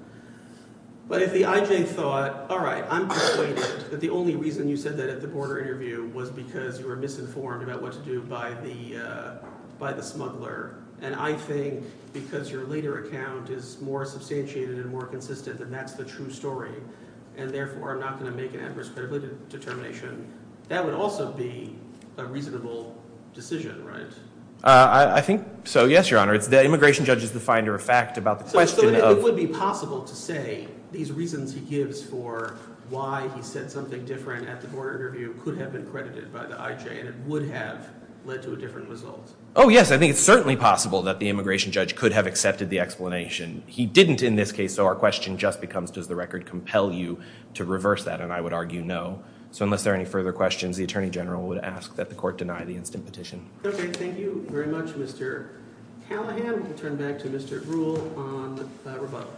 but if the IJ thought, all right, I'm persuaded that the only reason you said that at the border interview was because you were misinformed about what to do by the smuggler, and I think because your later account is more substantiated and more consistent and that's the true story, and therefore I'm not going to make an adverse credibility determination, that would also be a reasonable decision, right? I think so, yes, Your Honor. The immigration judge is the finder of fact about the question of So it would be possible to say these reasons he gives for why he said something different at the border interview could have been credited by the IJ, and it would have led to a different result. Oh, yes, I think it's certainly possible that the immigration judge could have accepted the explanation. He didn't in this case, so our question just becomes does the record compel you to reverse that, and I would argue no, so unless there are any further questions, the Attorney General would ask that the Court deny the instant petition. Okay, thank you very much, Mr. Callahan. We'll turn back to Mr. Ruhle on the rebuttal.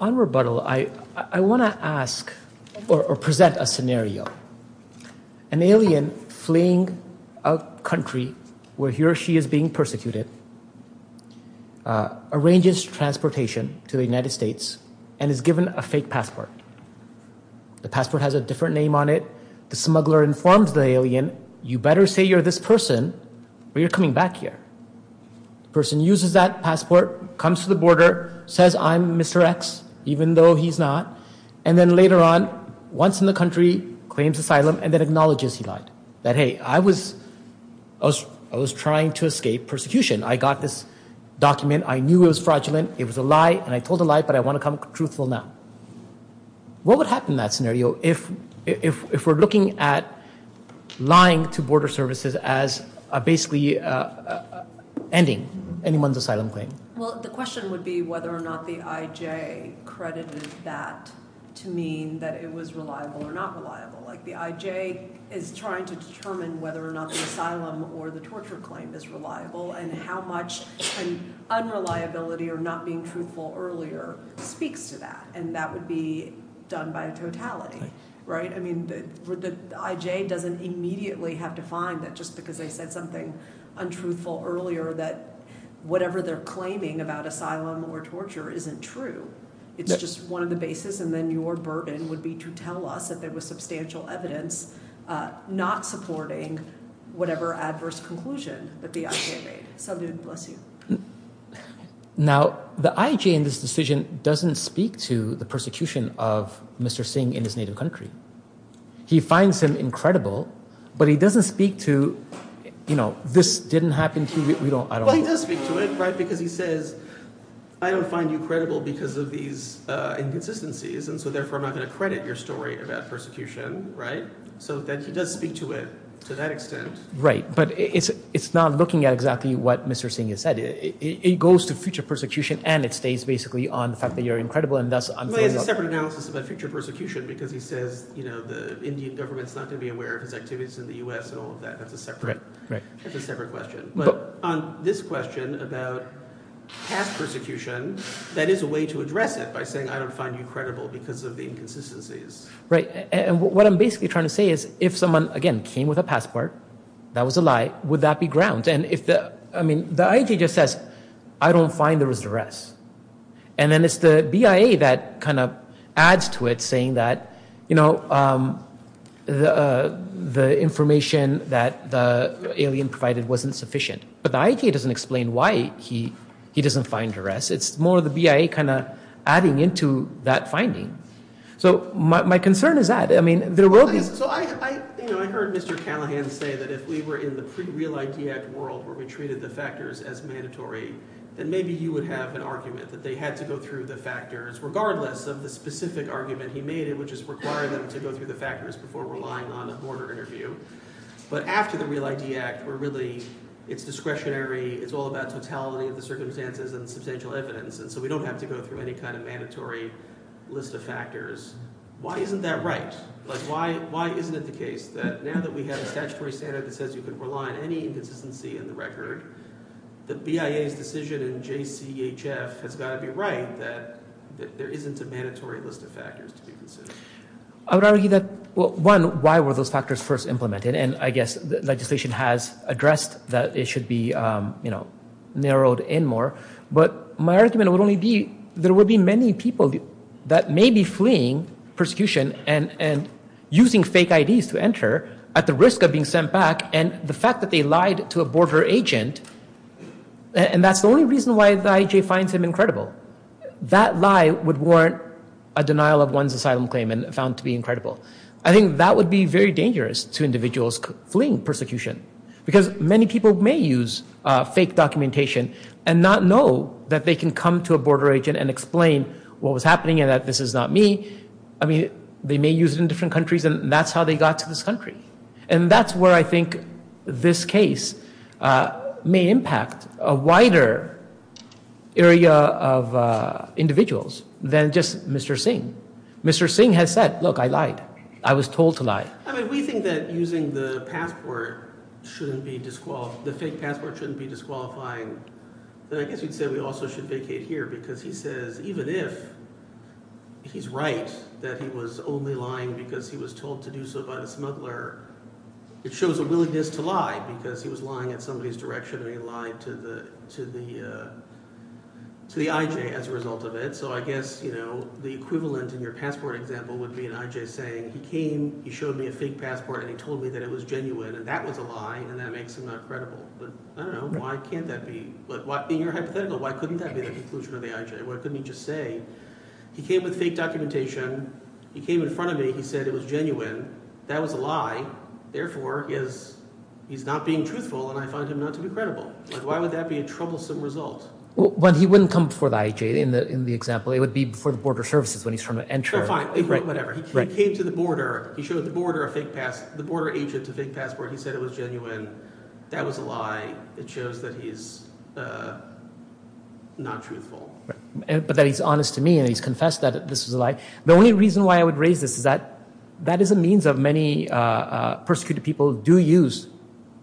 On rebuttal, I want to ask or present a scenario. An alien fleeing a country where he or she is being persecuted arranges transportation to the United States and is given a fake passport. The passport has a different name on it. The smuggler informs the alien, you better say you're this person or you're coming back here. The person uses that passport, comes to the border, says I'm Mr. X, even though he's not, and then later on, once in the country, claims asylum and then acknowledges he lied, that hey, I was trying to escape persecution. I got this document. I knew it was fraudulent. It was a lie, and I told a lie, but I want to come truthful now. What would happen in that scenario if we're looking at lying to border services as basically ending anyone's asylum claim? The question would be whether or not the IJ credited that to mean that it was reliable or not reliable. The IJ is trying to determine whether or not the asylum or the torture claim is reliable and how much unreliability or not being truthful earlier speaks to that, and that would be done by a totality. The IJ doesn't immediately have to find that just because they said something untruthful earlier that whatever they're claiming about asylum or torture isn't true. It's just one of the bases, and then your burden would be to tell us that there was substantial evidence not supporting whatever adverse conclusion that the IJ made. So, dude, bless you. Now, the IJ in this decision doesn't speak to the persecution of Mr. Singh in his native country. He finds him incredible, but he doesn't speak to, you know, this didn't happen to you. Well, he does speak to it, right, because he says, I don't find you credible because of these inconsistencies, and so therefore I'm not going to credit your story about persecution, right? So he does speak to it to that extent. Right, but it's not looking at exactly what Mr. Singh has said. It goes to future persecution, and it stays basically on the fact that you're incredible, and thus I'm filling up. Well, he has a separate analysis about future persecution because he says, you know, the Indian government's not going to be aware of his activities in the U.S. and all of that. That's a separate question. But on this question about past persecution, that is a way to address it by saying I don't find you credible because of the inconsistencies. Right, and what I'm basically trying to say is if someone, again, came with a passport, that was a lie, would that be ground? And if the, I mean, the IAJ just says I don't find there was duress, and then it's the BIA that kind of adds to it saying that, you know, the information that the alien provided wasn't sufficient. But the IAJ doesn't explain why he doesn't find duress. It's more the BIA kind of adding into that finding. So my concern is that. I mean, there will be. So I heard Mr. Callahan say that if we were in the pre-Real ID Act world where we treated the factors as mandatory, then maybe you would have an argument that they had to go through the factors, regardless of the specific argument he made, which is require them to go through the factors before relying on a mortar interview. But after the Real ID Act, where really it's discretionary, it's all about totality of the circumstances and substantial evidence, and so we don't have to go through any kind of mandatory list of factors. Why isn't that right? Like why isn't it the case that now that we have a statutory standard that says you can rely on any inconsistency in the record, the BIA's decision in JCHF has got to be right that there isn't a mandatory list of factors to be considered. I would argue that, well, one, why were those factors first implemented? And I guess legislation has addressed that it should be, you know, narrowed in more. But my argument would only be there would be many people that may be fleeing persecution and using fake IDs to enter at the risk of being sent back, and the fact that they lied to a border agent, and that's the only reason why the IJ finds him incredible. That lie would warrant a denial of one's asylum claim and found to be incredible. I think that would be very dangerous to individuals fleeing persecution because many people may use fake documentation and not know that they can come to a border agent and explain what was happening and that this is not me. I mean, they may use it in different countries, and that's how they got to this country. And that's where I think this case may impact a wider area of individuals than just Mr. Singh. Mr. Singh has said, look, I lied. I was told to lie. I mean we think that using the passport shouldn't be – the fake passport shouldn't be disqualifying. But I guess you'd say we also should vacate here because he says even if he's right that he was only lying because he was told to do so by the smuggler, it shows a willingness to lie because he was lying in somebody's direction and he lied to the IJ as a result of it. So I guess the equivalent in your passport example would be an IJ saying he came, he showed me a fake passport, and he told me that it was genuine, and that was a lie, and that makes him not credible. I don't know. Why can't that be – in your hypothetical, why couldn't that be the conclusion of the IJ? Why couldn't he just say he came with fake documentation, he came in front of me, he said it was genuine, that was a lie, therefore he's not being truthful and I find him not to be credible. Why would that be a troublesome result? Well, he wouldn't come before the IJ in the example. It would be before the border services when he's trying to enter. He came to the border, he showed the border a fake passport, the border agent a fake passport, he said it was genuine, that was a lie, it shows that he's not truthful. But that he's honest to me and he's confessed that this was a lie. The only reason why I would raise this is that that is a means that many persecuted people do use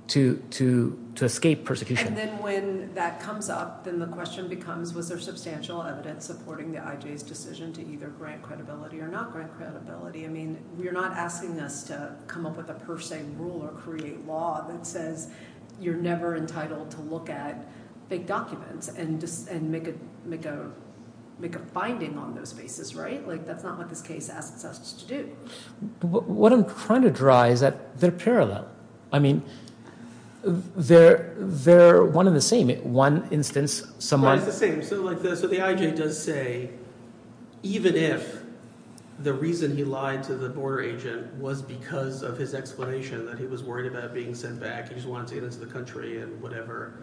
to escape persecution. And then when that comes up, then the question becomes, was there substantial evidence supporting the IJ's decision to either grant credibility or not grant credibility? I mean, you're not asking us to come up with a per se rule or create law that says you're never entitled to look at fake documents and make a finding on those bases, right? Like, that's not what this case asks us to do. What I'm trying to draw is that they're parallel. I mean, they're one and the same. Yeah, it's the same. So the IJ does say, even if the reason he lied to the border agent was because of his explanation that he was worried about being sent back, he just wanted to get into the country and whatever,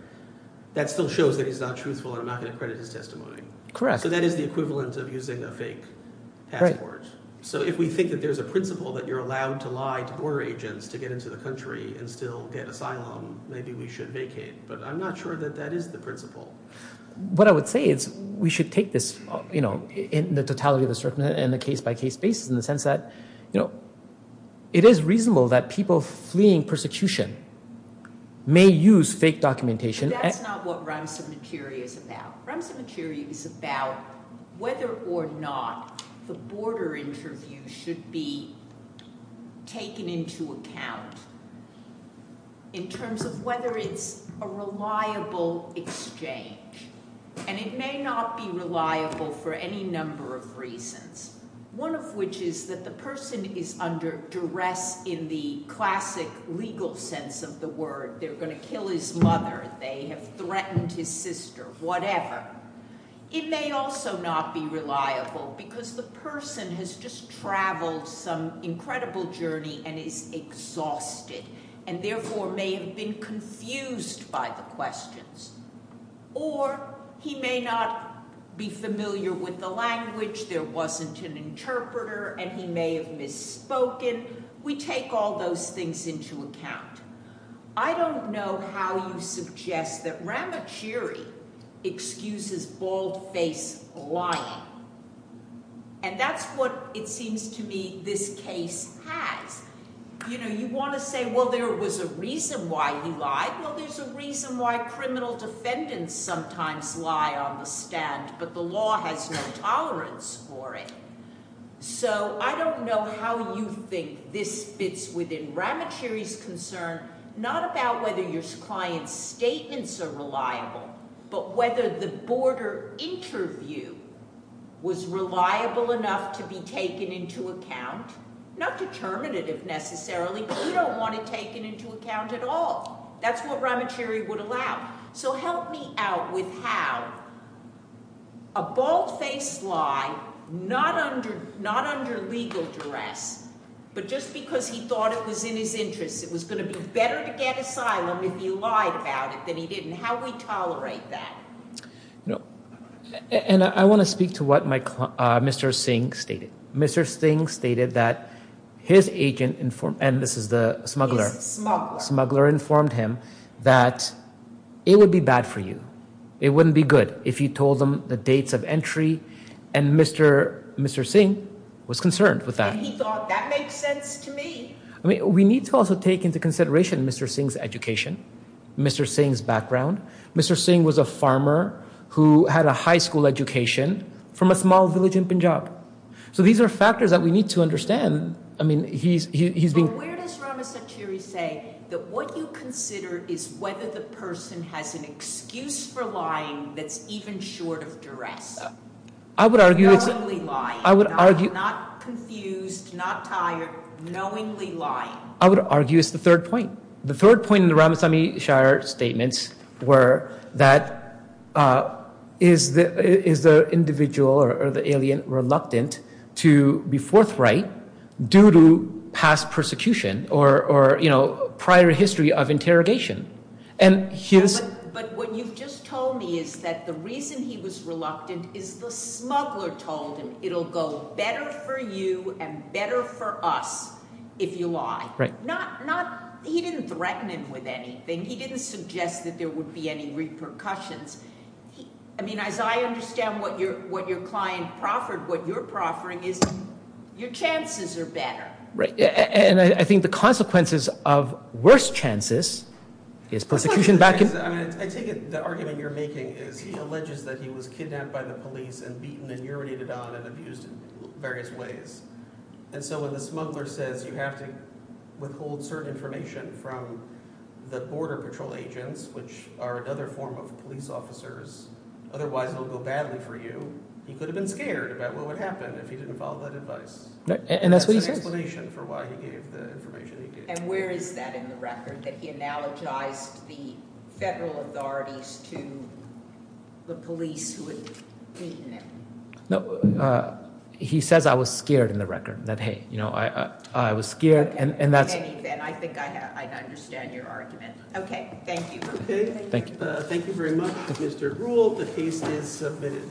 that still shows that he's not truthful and I'm not going to credit his testimony. So that is the equivalent of using a fake passport. So if we think that there's a principle that you're allowed to lie to border agents to get into the country and still get asylum, maybe we should vacate. But I'm not sure that that is the principle. What I would say is we should take this, you know, in the totality of the circumstances and the case-by-case basis in the sense that, you know, it is reasonable that people fleeing persecution may use fake documentation. But that's not what Ramsamateria is about. Ramsamateria is about whether or not the border interview should be taken into account in terms of whether it's a reliable exchange. And it may not be reliable for any number of reasons, one of which is that the person is under duress in the classic legal sense of the word. They're going to kill his mother, they have threatened his sister, whatever. It may also not be reliable because the person has just traveled some incredible journey and is exhausted and therefore may have been confused by the questions. Or he may not be familiar with the language, there wasn't an interpreter, and he may have misspoken. We take all those things into account. I don't know how you suggest that Ramacheri excuses bald-faced lying. And that's what it seems to me this case has. You know, you want to say, well, there was a reason why he lied. Well, there's a reason why criminal defendants sometimes lie on the stand, but the law has no tolerance for it. So I don't know how you think this fits within Ramacheri's concern, not about whether your client's statements are reliable, but whether the border interview was reliable enough to be taken into account. Not determinative, necessarily, but we don't want it taken into account at all. That's what Ramacheri would allow. So help me out with how a bald-faced lie, not under legal duress, but just because he thought it was in his interest, it was going to be better to get asylum if he lied about it than he didn't, how do we tolerate that? And I want to speak to what Mr. Singh stated. Mr. Singh stated that his agent informed him, and this is the smuggler, smuggler informed him that it would be bad for you. It wouldn't be good if you told them the dates of entry, and Mr. Singh was concerned with that. And he thought that makes sense to me. We need to also take into consideration Mr. Singh's education, Mr. Singh's background. Mr. Singh was a farmer who had a high school education from a small village in Punjab. So these are factors that we need to understand. So where does Ramacheri say that what you consider is whether the person has an excuse for lying that's even short of duress? I would argue it's the third point. The third point in the Ramachari statements were that is the individual or the alien reluctant to be forthright due to past persecution or prior history of interrogation. But what you've just told me is that the reason he was reluctant is the smuggler told him it will go better for you and better for us if you lie. He didn't threaten him with anything. He didn't suggest that there would be any repercussions. As I understand what your client proffered, what you're proffering is your chances are better. Right. And I think the consequences of worse chances is persecution back in... I take it the argument you're making is he alleges that he was kidnapped by the police and beaten and urinated on and abused in various ways. And so when the smuggler says you have to withhold certain information from the border patrol agents, which are another form of police officers, otherwise it will go badly for you, he could have been scared about what would happen if he didn't follow that advice. And that's an explanation for why he gave the information he gave. And where is that in the record, that he analogized the federal authorities to the police who had beaten him? No, he says I was scared in the record, that, hey, I was scared. I think I understand your argument. Okay, thank you. Thank you very much, Mr. Gruhl. The case is submitted.